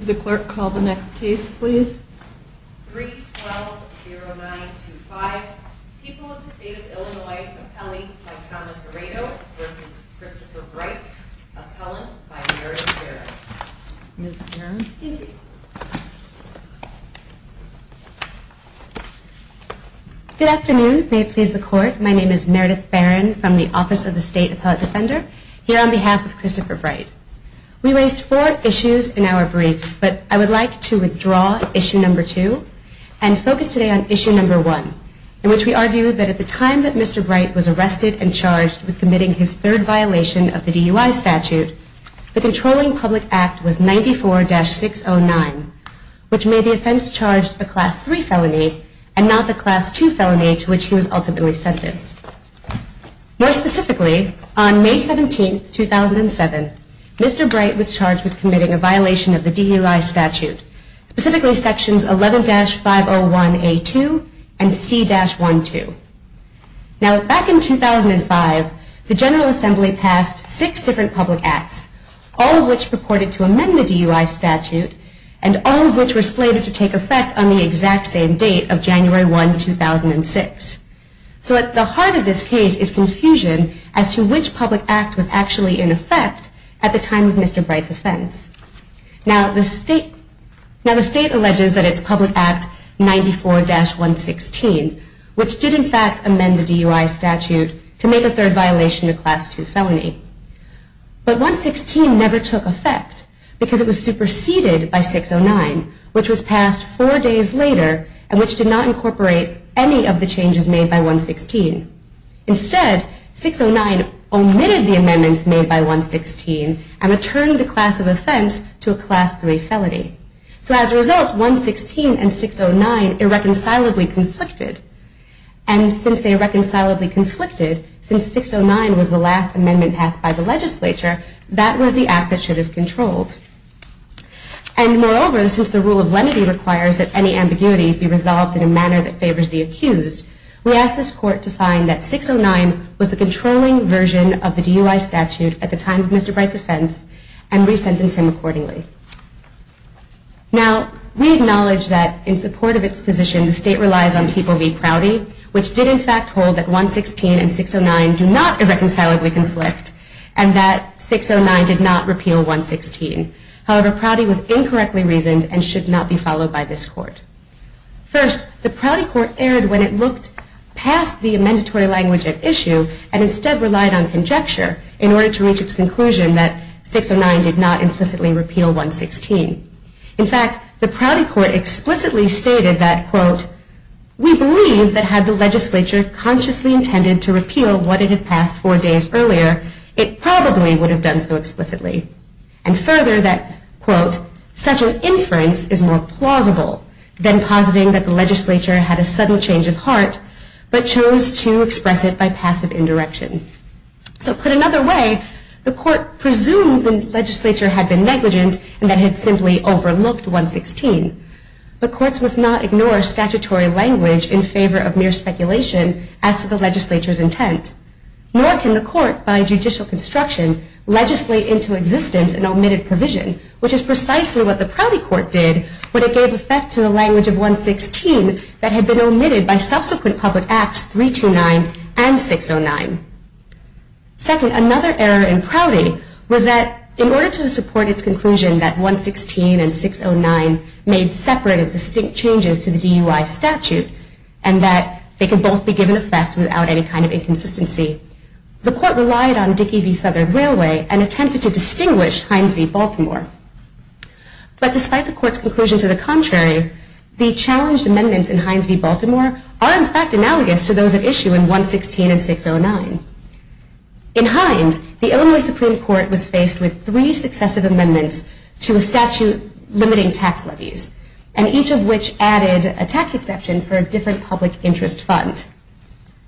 Good afternoon. May it please the Court, my name is Meredith Barron from the Office of the State Appellate Defender, here on behalf of Christopher Bright. We raised four issues in our briefs, but I would like to withdraw Issue No. 2 and focus today on Issue No. 1, in which we argued that at the time that Mr. Bright was arrested and charged with committing his third violation of the DUI statute, the Controlling Public Act was 94-609, which made the offense charged a Class 3 felony and not the Class 2 felony to which he was ultimately sentenced. More specifically, on May 17, 2007, Mr. Bright was charged with committing a violation of the DUI statute, specifically Sections 11-501A2 and C-12. Back in 2005, the General Assembly passed six different public acts, all of which purported to amend the DUI statute, and all of which were slated to take effect on the exact same date of January 1, 2006. At the heart of this case is confusion as to which public act was actually in effect at the time of Mr. Bright's offense. Now, the state alleges that it's Public Act 94-116, which did in fact amend the DUI statute to make a third violation a Class 2 felony. But 116 never took effect because it was superseded by 609, which was passed four days later and which did not incorporate any of the changes made by 116. Instead, 609 omitted the amendments made by 116 and returned the class of offense to a Class 3 felony. So as a result, 116 and 609 irreconcilably conflicted. And since they irreconcilably conflicted, since 609 was the last amendment passed by the legislature, that was the act that should have controlled. And moreover, since the rule of lenity requires that any ambiguity be resolved in a manner that favors the accused, we ask this court to find that 609 was the controlling version of the DUI statute at the time of Mr. Bright's offense and re-sentence him accordingly. Now, we acknowledge that in support of its position, the state relies on people v. Crowdy, which did in fact hold that 116 and 609 do not irreconcilably conflict and that 609 did not repeal 116. However, Crowdy was incorrectly reasoned and should not be followed by this court. First, the Crowdy Court erred when it looked past the amendatory language at issue and instead relied on conjecture in order to reach its conclusion that 609 did not implicitly repeal 116. In fact, the Crowdy Court explicitly stated that, quote, we believe that had the legislature consciously intended to repeal what it had passed four days earlier, it probably would have done so explicitly. And further, that, quote, such an inference is more plausible than positing that the legislature had a subtle change of heart but chose to express it by passive indirection. So put another way, the court presumed the legislature had been negligent and that it had simply overlooked 116. But courts must not ignore statutory language in favor of mere speculation as to the legislature's intent. Nor can the court, by judicial construction, legislate into existence an omitted provision, which is precisely what the Crowdy Court did when it gave effect to the language of 116 that had been omitted by subsequent public acts 329 and 609. Second, another error in Crowdy was that in order to support its conclusion that 116 and 609 made separate and distinct changes to the DUI statute and that they could both be given effect without any kind of inconsistency, the court relied on Dickey v. Southern Railway and attempted to distinguish Hines v. Baltimore. But despite the court's conclusion to the contrary, the challenged amendments in Hines v. Baltimore are in fact analogous to those at issue in 116 and 609. In Hines, the Illinois Supreme Court was faced with three successive amendments to a statute limiting tax levies, and each of which added a tax exception for a different public interest fund.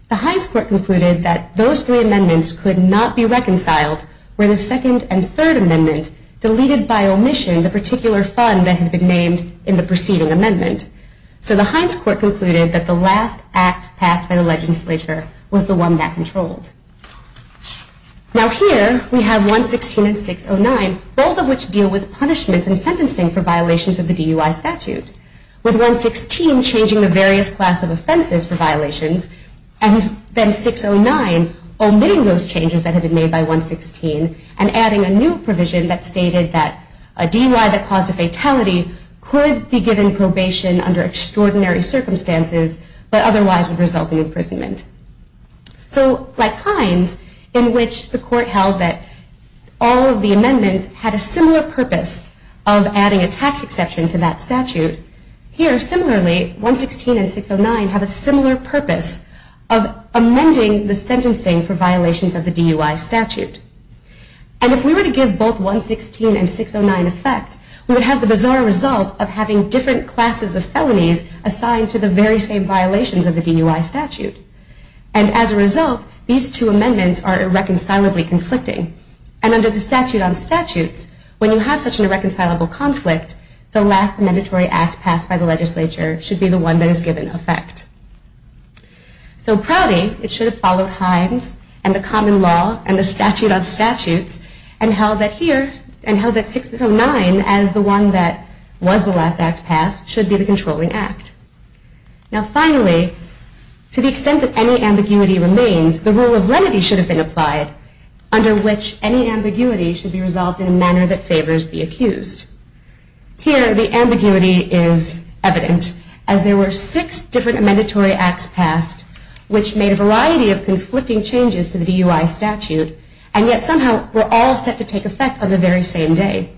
The Hines Court concluded that those three amendments could not be reconciled were the second and third amendment deleted by omission the particular fund that had been named in the preceding amendment. So the Hines Court concluded that the last act passed by the legislature was the one that controlled. Now here we have 116 and 609, both of which deal with punishments and sentencing for violations of the DUI statute. With 116 changing the various class of offenses for violations, and then 609 omitting those changes that had been made by 116 and adding a new provision that stated that a DUI that caused a fatality could be given probation under extraordinary circumstances, but otherwise would result in imprisonment. So like Hines, in which the court held that all of the amendments had a similar purpose of adding a tax exception to that statute, here similarly 116 and 609 have a similar purpose of amending the sentencing for violations of the DUI statute. And if we were to give both 116 and 609 effect, we would have the bizarre result of having different classes of felonies assigned to the very same violations of the DUI statute. And as a result, these two amendments are irreconcilably conflicting. And under the statute on statutes, when you have such an irreconcilable conflict, the last mandatory act passed by the legislature should be the one that is given effect. So probably it should have followed Hines and the common law and the statute on statutes and held that 609 as the one that was the last act passed should be the controlling act. Now finally, to the extent that any ambiguity remains, the rule of lenity should have been applied, under which any ambiguity should be resolved in a manner that favors the accused. Here the ambiguity is evident, as there were six different mandatory acts passed, which made a variety of conflicting changes to the DUI statute, and yet somehow were all set to take effect on the very same day.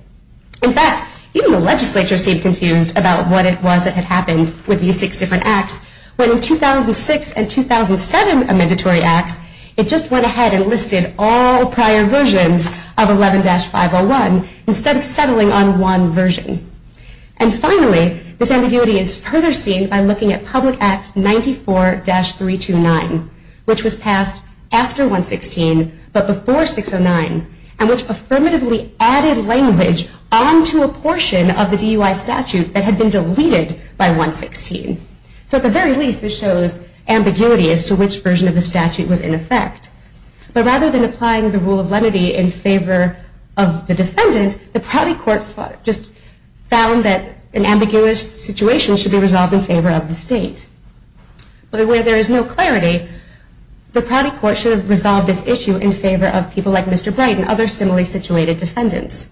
In fact, even the legislature seemed confused about what it was that had happened with these six different acts, when in 2006 and 2007 mandatory acts, it just went ahead and listed all prior versions of 11-501 instead of settling on one version. And finally, this ambiguity is further seen by looking at Public Act 94-329, which was passed after 116 but before 609, and which affirmatively added language onto a portion of the DUI statute that had been deleted by 116. So at the very least, this shows ambiguity as to which version of the statute was in effect. But rather than applying the rule of lenity in favor of the defendant, the Prouty Court just found that an ambiguous situation should be resolved in favor of the state. But where there is no clarity, the Prouty Court should have resolved this issue in favor of people like Mr. Bright and other similarly situated defendants.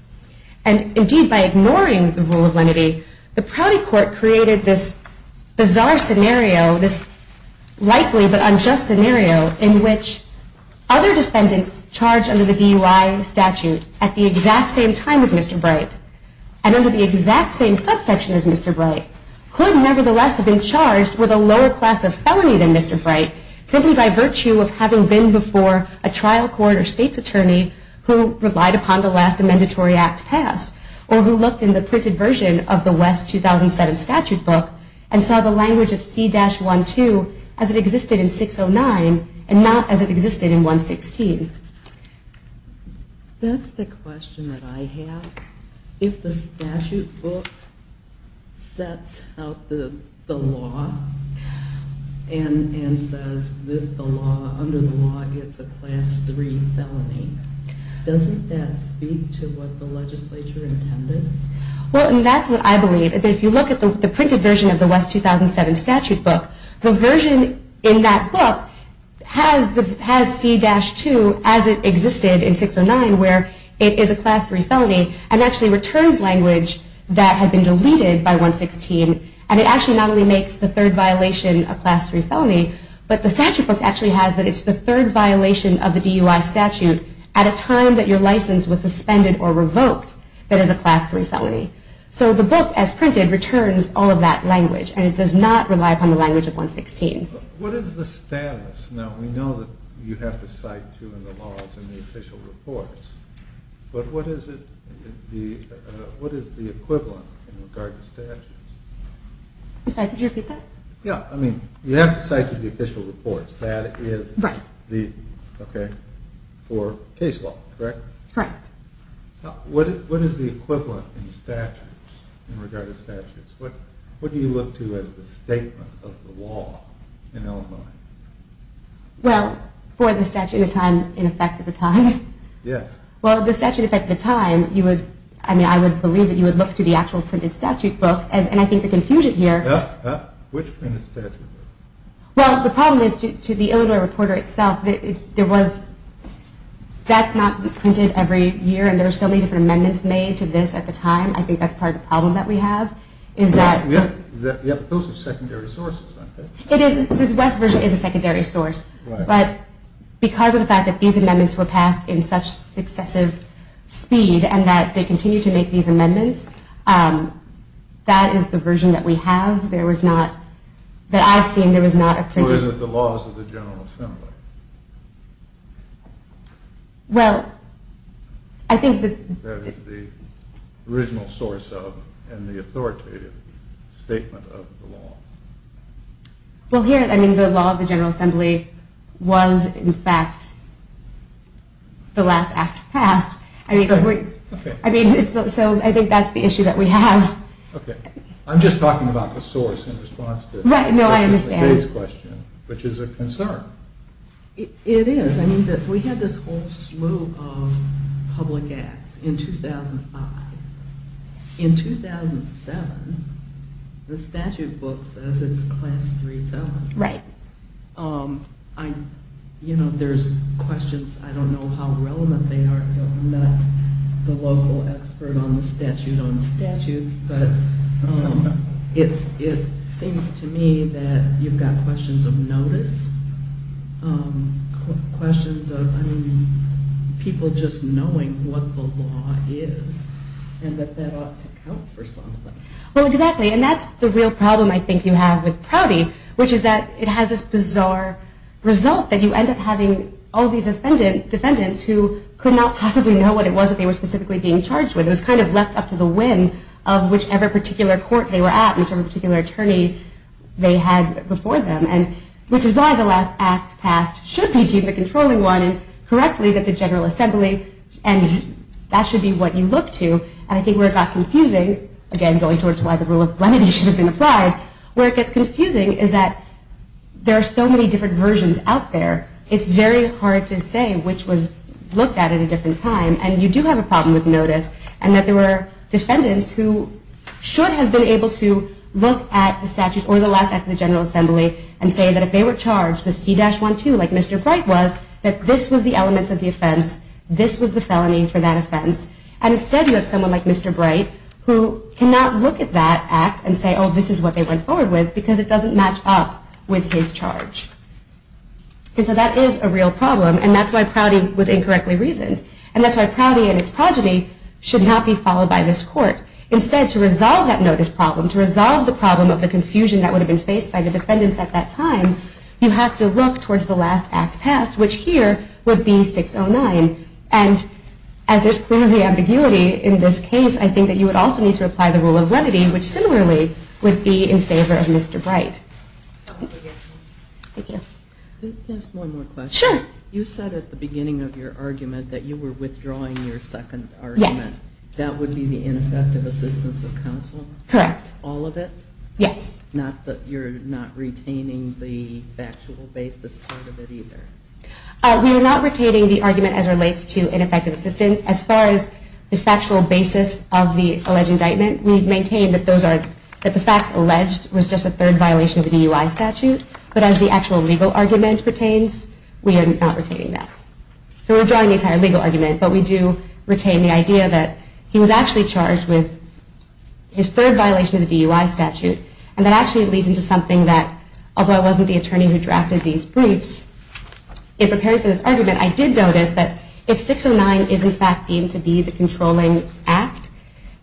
And indeed, by ignoring the rule of lenity, the Prouty Court created this bizarre scenario, this likely but unjust scenario, in which other defendants charged under the DUI statute at the exact same time as Mr. Bright, and under the exact same subsection as Mr. Bright, could nevertheless have been charged with a lower class of felony than Mr. Bright, simply by virtue of having been before a trial court or state's attorney who relied upon the last mandatory act passed, or who looked in the printed version of the West 2007 statute book and saw the language of C-12 as it existed in 609 and not as it existed in 116. That's the question that I have. If the statute book sets out the law and says under the law it's a class 3 felony, doesn't that speak to what the legislature intended? Well, and that's what I believe. If you look at the printed version of the West 2007 statute book, the version in that book has C-2 as it existed in 609, where it is a class 3 felony, and actually returns language that had been deleted by 116, and it actually not only makes the third violation a class 3 felony, but the statute book actually has that it's the third violation of the DUI statute at a time that your license was suspended or revoked that is a class 3 felony. So the book, as printed, returns all of that language, and it does not rely upon the language of 116. What is the status? Now, we know that you have to cite two of the laws in the official reports, but what is the equivalent in regard to statutes? I'm sorry, could you repeat that? Yeah, I mean, you have to cite the official reports. That is for case law, correct? Correct. What is the equivalent in statutes, in regard to statutes? What do you look to as the statement of the law in Illinois? Well, for the statute of time, in effect of the time? Yes. Well, the statute of time, I would believe that you would look to the actual printed statute book, and I think the confusion here... Which printed statute? Well, the problem is, to the Illinois reporter itself, that's not printed every year, and there are so many different amendments made to this at the time. I think that's part of the problem that we have, is that... Yeah, those are secondary sources, aren't they? It is. This West version is a secondary source. Right. But because of the fact that these amendments were passed in such successive speed and that they continue to make these amendments, that is the version that we have. There was not, that I've seen, there was not a printed... Or is it the laws of the General Assembly? Well, I think that... That is the original source of, and the authoritative statement of the law. Well, here, I mean, the law of the General Assembly was, in fact, the last act passed. I mean, so I think that's the issue that we have. Okay. I'm just talking about the source in response to... Right, no, I understand. This is a case question, which is a concern. It is. I mean, we had this whole slew of public acts in 2005. In 2007, the statute book says it's class 3 felony. Right. You know, there's questions. I don't know how relevant they are. I'm not the local expert on the statute on statutes, but it seems to me that you've got questions of notice, questions of, I mean, people just knowing what the law is and that that ought to count for something. Well, exactly, and that's the real problem I think you have with Prouty, which is that it has this bizarre result that you end up having all these defendants who could not possibly know what it was that they were specifically being charged with. It was kind of left up to the whim of whichever particular court they were at, whichever particular attorney they had before them, which is why the last act passed should be deemed the controlling one, and correctly that the General Assembly, and that should be what you look to. And I think where it got confusing, again, going towards why the rule of lenity should have been applied, where it gets confusing is that there are so many different versions out there, it's very hard to say which was looked at at a different time, and you do have a problem with notice, and that there were defendants who should have been able to look at the statute or the last act of the General Assembly and say that if they were charged, the C-12, like Mr. Bright was, that this was the elements of the offense, this was the felony for that offense, and instead you have someone like Mr. Bright who cannot look at that act and say, oh, this is what they went forward with because it doesn't match up with his charge. And so that is a real problem, and that's why Prouty was incorrectly reasoned, and that's why Prouty and its progeny should not be followed by this court. Instead, to resolve that notice problem, to resolve the problem of the confusion that would have been faced by the defendants at that time, you have to look towards the last act passed, which here would be 609. And as there's clearly ambiguity in this case, I think that you would also need to apply the rule of lenity, which similarly would be in favor of Mr. Bright. Thank you. Just one more question. Sure. You said at the beginning of your argument that you were withdrawing your second argument. Yes. That would be the ineffective assistance of counsel? Correct. All of it? Yes. Not that you're not retaining the factual basis part of it either? We are not retaining the argument as it relates to ineffective assistance. As far as the factual basis of the alleged indictment, we maintain that the facts alleged was just a third violation of the DUI statute, but as the actual legal argument pertains, we are not retaining that. So we're withdrawing the entire legal argument, but we do retain the idea that he was actually charged with his third violation of the DUI statute, and that actually leads into something that, although I wasn't the attorney who drafted these briefs in preparing for this argument, I did notice that if 609 is in fact deemed to be the controlling act,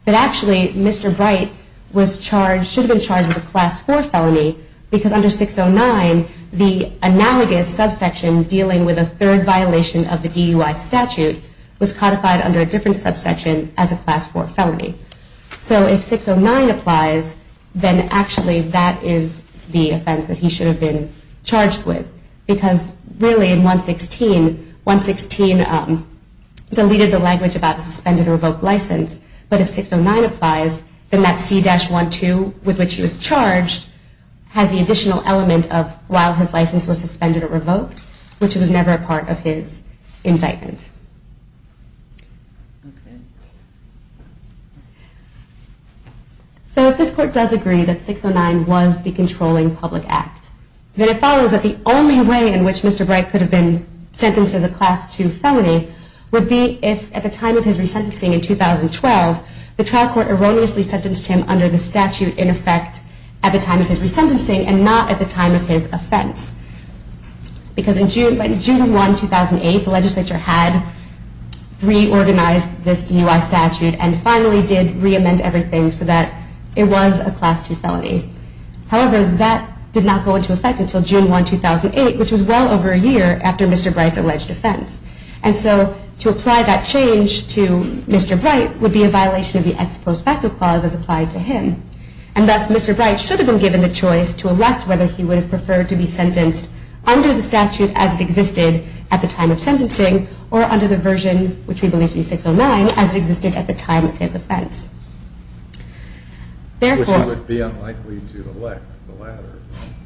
that actually Mr. Bright should have been charged with a Class 4 felony because under 609 the analogous subsection dealing with a third violation of the DUI statute was codified under a different subsection as a Class 4 felony. So if 609 applies, then actually that is the offense that he should have been charged with because really in 116, 116 deleted the language about a suspended or revoked license, but if 609 applies, then that C-12 with which he was charged has the additional element of while his license was suspended or revoked, which was never a part of his indictment. So if this Court does agree that 609 was the controlling public act, then it follows that the only way in which Mr. Bright could have been sentenced as a Class 2 felony would be if at the time of his resentencing in 2012, the trial court erroneously sentenced him under the statute in effect at the time of his resentencing and not at the time of his offense. Because in June 1, 2008, the legislature had reorganized this DUI statute and finally did re-amend everything so that it was a Class 2 felony. However, that did not go into effect until June 1, 2008, which was well over a year after Mr. Bright's alleged offense. And so to apply that change to Mr. Bright would be a violation of the ex post facto clause as applied to him. And thus Mr. Bright should have been given the choice to elect whether he would have preferred to be sentenced under the statute as it existed at the time of sentencing or under the version, which we believe to be 609, as it existed at the time of his offense. Which he would be unlikely to elect, the latter.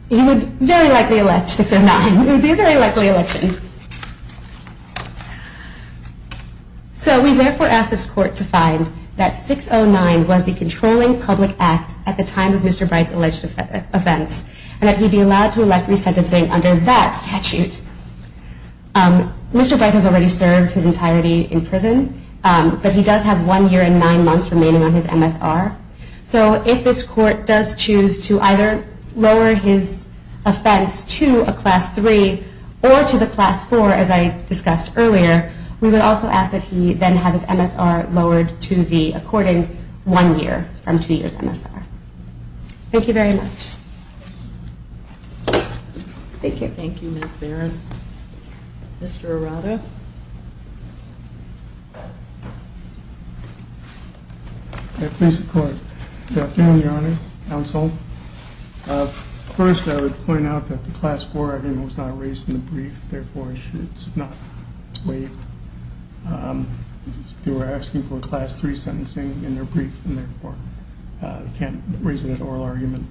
He would very likely elect 609. It would be a very likely election. So we therefore ask this court to find that 609 was the controlling public act at the time of Mr. Bright's alleged offense and that he be allowed to elect resentencing under that statute. Mr. Bright has already served his entirety in prison, but he does have one year and nine months remaining on his MSR. So if this court does choose to either lower his offense to a Class 3 or to the Class 4, as I discussed earlier, we would also ask that he then have his MSR lowered to the according one year from two years MSR. Thank you very much. Mr. Arado? May I please the court? Good afternoon, Your Honor, counsel. First, I would point out that the Class 4 argument was not raised in the brief, therefore it should not wait. They were asking for a Class 3 sentencing in their brief, and therefore they can't raise that oral argument.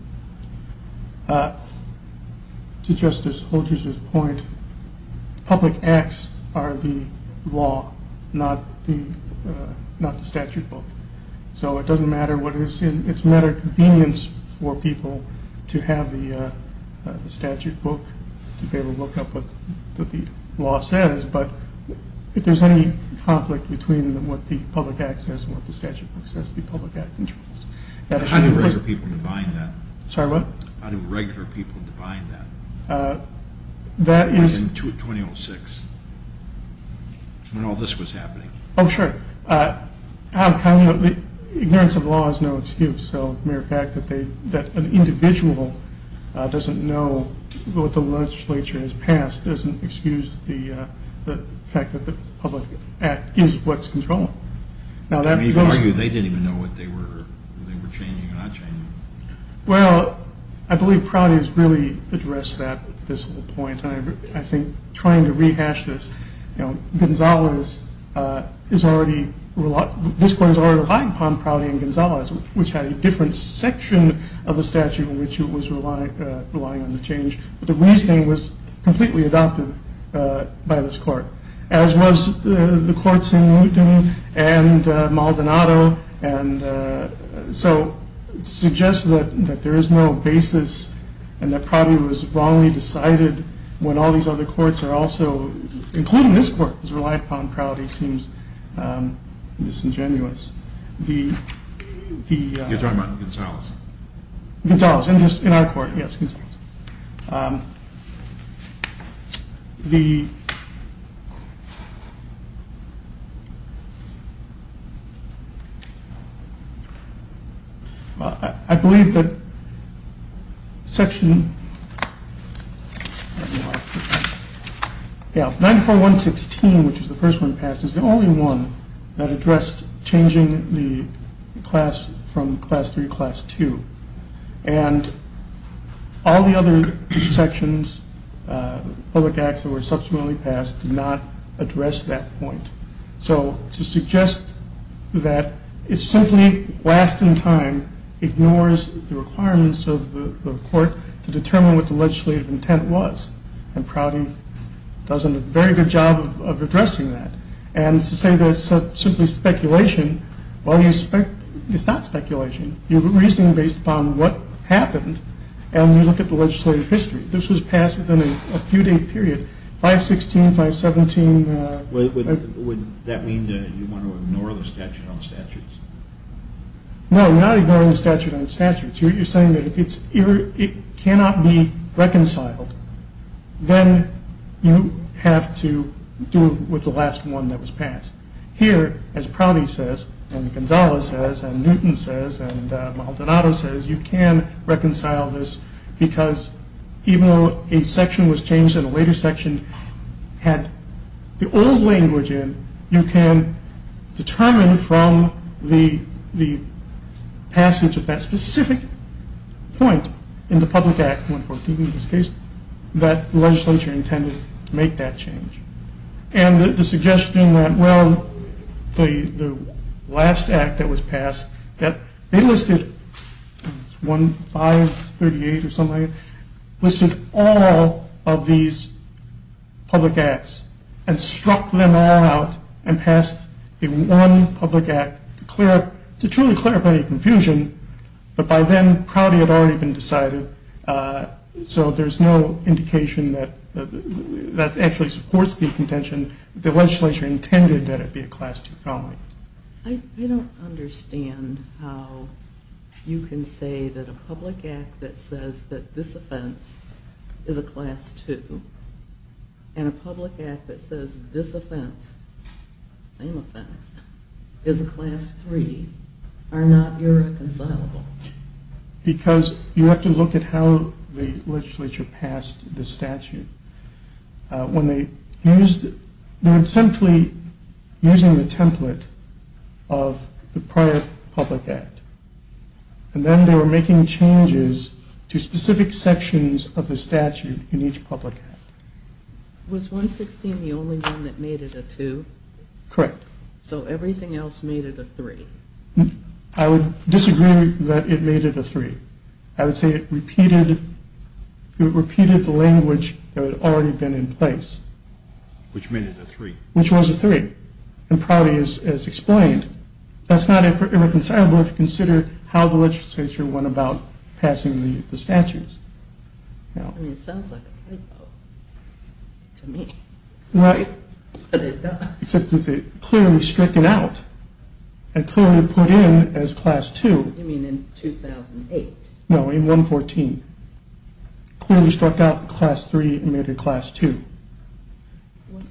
To Justice Holder's point, public acts are the law, not the statute book. So it's a matter of convenience for people to have the statute book to be able to look up what the law says, but if there's any conflict between what the public act says and what the statute book says, the public act controls. How do regular people define that? Sorry, what? How do regular people define that? That is... In 2006, when all this was happening. Oh, sure. Ignorance of the law is no excuse, so the mere fact that an individual doesn't know what the legislature has passed doesn't excuse the fact that the public act is what's controlling. You could argue they didn't even know what they were changing or not changing. Well, I believe Prouty has really addressed that, this whole point, and I think trying to rehash this, you know, this Court has already relied upon Prouty and Gonzalez, which had a different section of the statute in which it was relying on the change, but the reasoning was completely adopted by this Court, as was the Courts in Newton and Maldonado, and so it suggests that there is no basis and that Prouty was wrongly decided when all these other courts are also, including this Court, has relied upon Prouty seems disingenuous. The... You're talking about Gonzalez. Gonzalez, in our Court, yes, Gonzalez. The... I believe that Section 94-116, which is the first one passed, is the only one that addressed changing the class from Class 3 to Class 2, and all the other sections, public acts that were subsequently passed, did not address that point. So to suggest that it simply, last in time, ignores the requirements of the Court to determine what the legislative intent was, and Prouty does a very good job of addressing that, and to say that it's simply speculation, well, it's not speculation. You have a reasoning based upon what happened, and you look at the legislative history. This was passed within a few-day period, 516, 517... Would that mean that you want to ignore the statute on statutes? No, you're not ignoring the statute on statutes. You're saying that if it cannot be reconciled, then you have to do with the last one that was passed. Here, as Prouty says, and Gonzales says, and Newton says, and Maldonado says, you can reconcile this because even though a section was changed and a later section had the old language in, you can determine from the passage of that specific point in the public act, 114 in this case, that the legislature intended to make that change. And the suggestion that, well, the last act that was passed, that they listed, 1538 or something like that, listed all of these public acts and struck them all out and passed a one public act to truly clear up any confusion, but by then Prouty had already been decided, so there's no indication that that actually supports the contention that the legislature intended that it be a class 2 felony. I don't understand how you can say that a public act that says that this offense is a class 2 and a public act that says this offense, same offense, is a class 3, are not irreconcilable. Because you have to look at how the legislature passed the statute. They were simply using the template of the prior public act, and then they were making changes to specific sections of the statute in each public act. Was 116 the only one that made it a 2? Correct. So everything else made it a 3? I would disagree that it made it a 3. I would say it repeated the language that had already been in place. Which made it a 3? Which was a 3, and Prouty has explained. That's not irreconcilable if you consider how the legislature went about passing the statutes. I mean, it sounds like a 3, though, to me. Right. But it does. It clearly stricken out and clearly put in as class 2. You mean in 2008? No, in 114. Clearly struck out the class 3 and made it a class 2. What's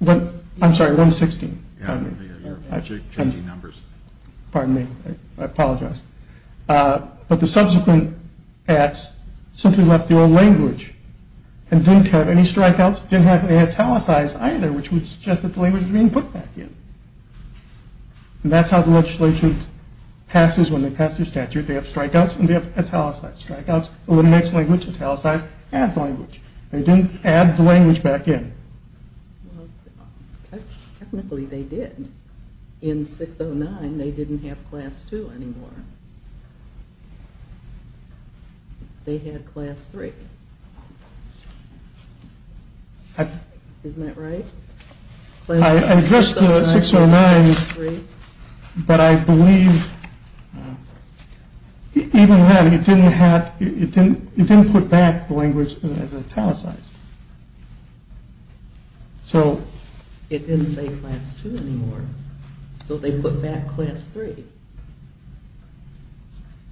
114? I'm sorry, 116. You're changing numbers. Pardon me. I apologize. But the subsequent acts simply left the old language and didn't have any strikeouts, didn't have any italicized either, which would suggest that the language was being put back in. And that's how the legislature passes when they pass their statute. They have strikeouts and they have italicized. Strikeouts eliminates language, italicized adds language. They didn't add the language back in. Technically, they did. In 609, they didn't have class 2 anymore. They had class 3. Isn't that right? I addressed the 609, but I believe even then, it didn't put back the language as italicized. It didn't say class 2 anymore, so they put back class 3.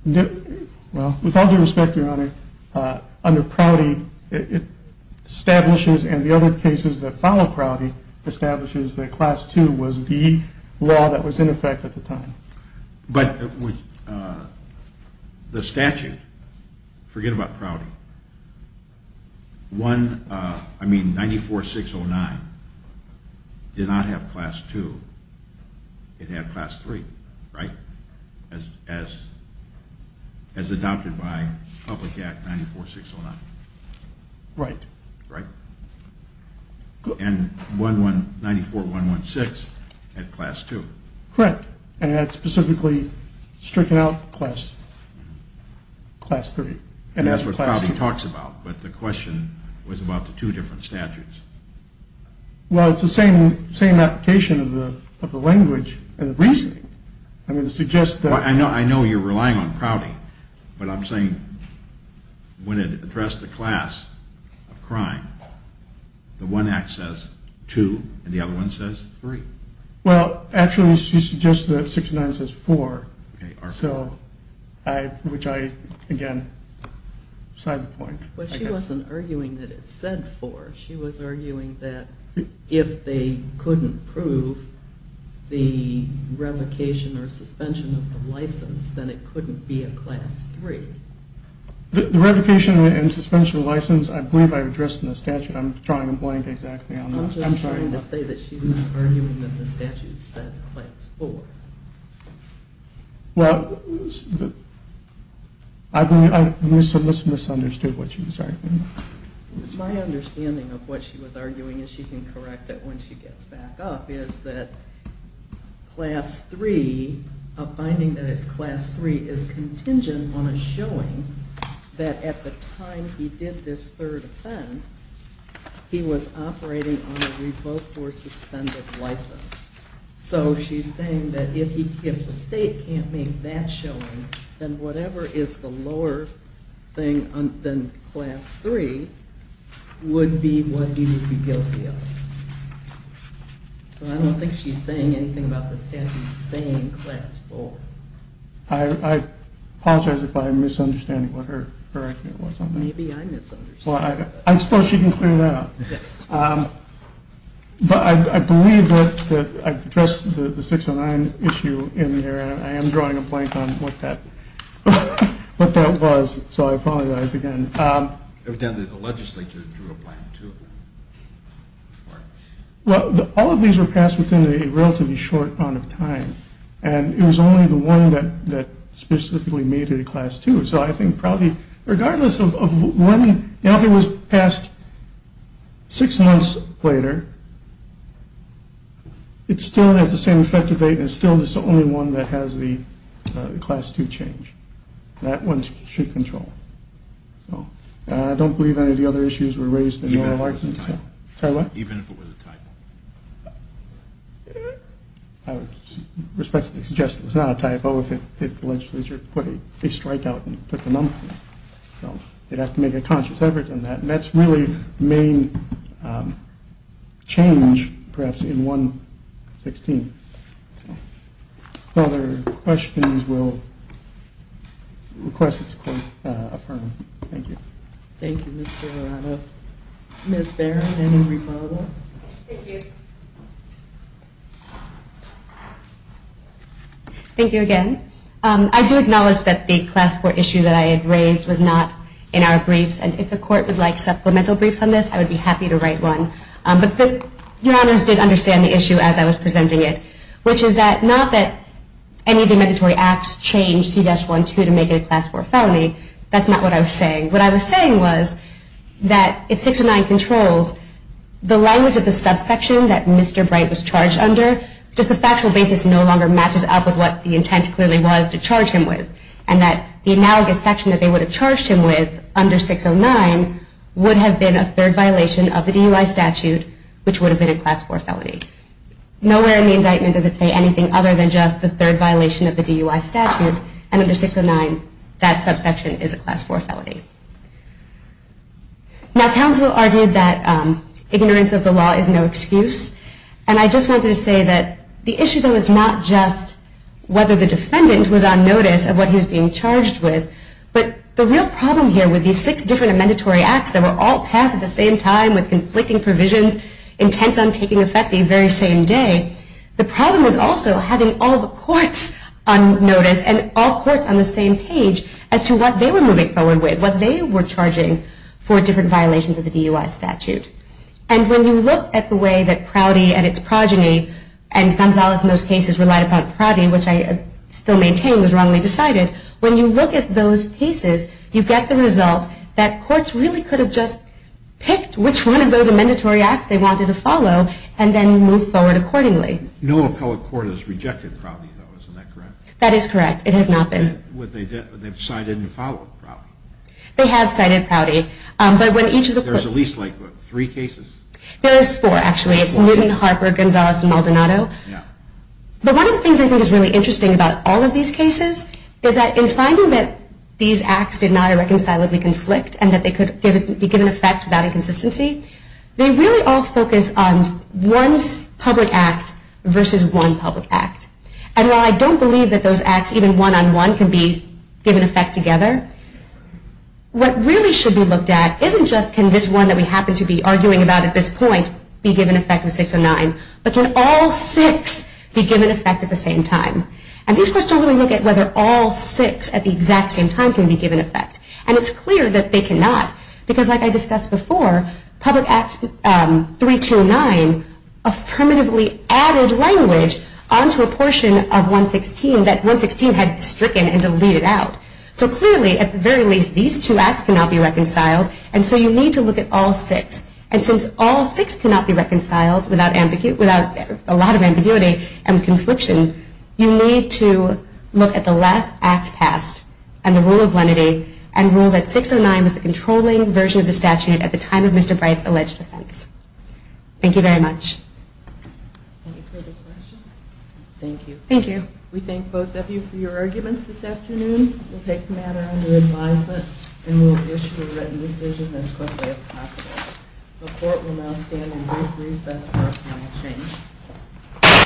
With all due respect, Your Honor, under Prouty, it establishes and the other cases that follow Prouty, establishes that class 2 was the law that was in effect at the time. But the statute, forget about Prouty, 94-609 did not have class 2. It had class 3, right, as adopted by Public Act 94-609. Right. Right. And 94-116 had class 2. Correct. And it had specifically stricken out class 3. And that's what Prouty talks about, but the question was about the two different statutes. Well, it's the same application of the language and the reasoning. I'm going to suggest that. I know you're relying on Prouty, but I'm saying when it addressed the class of crime, the one act says 2 and the other one says 3. Well, actually, she suggested that 69 says 4. Okay. Which I, again, side the point. But she wasn't arguing that it said 4. She was arguing that if they couldn't prove the revocation or suspension of the license, then it couldn't be a class 3. The revocation and suspension of the license, I believe I addressed in the statute. I'm drawing a blank exactly on that. I'm sorry. I'm just trying to say that she's not arguing that the statute says class 4. Well, I believe I misunderstood what she was arguing. My understanding of what she was arguing, and she can correct it when she gets back up, is that finding that it's class 3 is contingent on a showing that at the time he did this third offense, he was operating on a revoked or suspended license. So she's saying that if the state can't make that showing, then whatever is the lower thing than class 3 would be what he would be guilty of. So I don't think she's saying anything about the statute saying class 4. I apologize if I'm misunderstanding what her argument was on that. Maybe I misunderstood it. I suppose she can clear that up. Yes. But I believe that I've addressed the 609 issue in there, and I am drawing a blank on what that was. So I apologize again. The legislature drew a blank, too. Well, all of these were passed within a relatively short amount of time, and it was only the one that specifically made it a class 2. So I think probably regardless of when, if it was passed six months later, it still has the same effective date and still is the only one that has the class 2 change. That one should control. So I don't believe any of the other issues were raised in your argument. Even if it was a typo. Sorry, what? Even if it was a typo. I would respectfully suggest it was not a typo if the legislature put a strike out and put the number on it. So they'd have to make a conscious effort in that. And that's really the main change, perhaps, in 116. If there are other questions, we'll request this court affirm. Thank you. Thank you, Mr. Arana. Ms. Barron, any rebuttal? Thank you. Thank you again. I do acknowledge that the class 4 issue that I had raised was not in our briefs, and if the court would like supplemental briefs on this, I would be happy to write one. But your honors did understand the issue as I was presenting it, which is that not that any of the mandatory acts changed C-12 to make it a class 4 felony. That's not what I was saying. What I was saying was that if 609 controls, the language of the subsection that Mr. Bright was charged under, just the factual basis no longer matches up with what the intent clearly was to charge him with, and that the analogous section that they would have charged him with under 609 would have been a third violation of the DUI statute, which would have been a class 4 felony. Nowhere in the indictment does it say anything other than just the third violation of the DUI statute, and under 609, that subsection is a class 4 felony. Now, counsel argued that ignorance of the law is no excuse, and I just wanted to say that the issue, though, is not just whether the defendant was on notice of what he was being charged with, but the real problem here with these six different mandatory acts that were all passed at the same time with conflicting provisions intent on taking effect the very same day, the problem is also having all the courts on notice and all courts on the same page as to what they were moving forward with, what they were charging for different violations of the DUI statute. And when you look at the way that Crowdy and its progeny and Gonzalez in those cases relied upon Crowdy, which I still maintain was wrongly decided, when you look at those cases, you get the result that courts really could have just picked which one of those mandatory acts they wanted to follow and then move forward accordingly. No appellate court has rejected Crowdy, though. Isn't that correct? That is correct. It has not been. They've cited and followed Crowdy. They have cited Crowdy. There's at least, like, what, three cases? There is four, actually. It's Newton, Harper, Gonzalez, and Maldonado. Yeah. But one of the things I think is really interesting about all of these cases is that in finding that these acts did not irreconcilably conflict and that they could be given effect without inconsistency, they really all focus on one public act versus one public act. And while I don't believe that those acts, even one-on-one, can be given effect together, what really should be looked at isn't just can this one that we happen to be arguing about at this point be given effect with 609, but can all six be given effect at the same time? And these courts don't really look at whether all six at the exact same time can be given effect. And it's clear that they cannot because, like I discussed before, Public Act 329 affirmatively added language onto a portion of 116 that 116 had stricken and deleted out. So clearly, at the very least, these two acts cannot be reconciled, and so you need to look at all six. And since all six cannot be reconciled without a lot of ambiguity and confliction, you need to look at the last act passed and the rule of lenity and rule that 609 was the controlling version of the statute at the time of Mr. Bright's alleged offense. Thank you very much. Any further questions? Thank you. Thank you. We thank both of you for your arguments this afternoon. The committee will take the matter under advisement and will issue a written decision as quickly as possible. The court will now stand in brief recess for final change.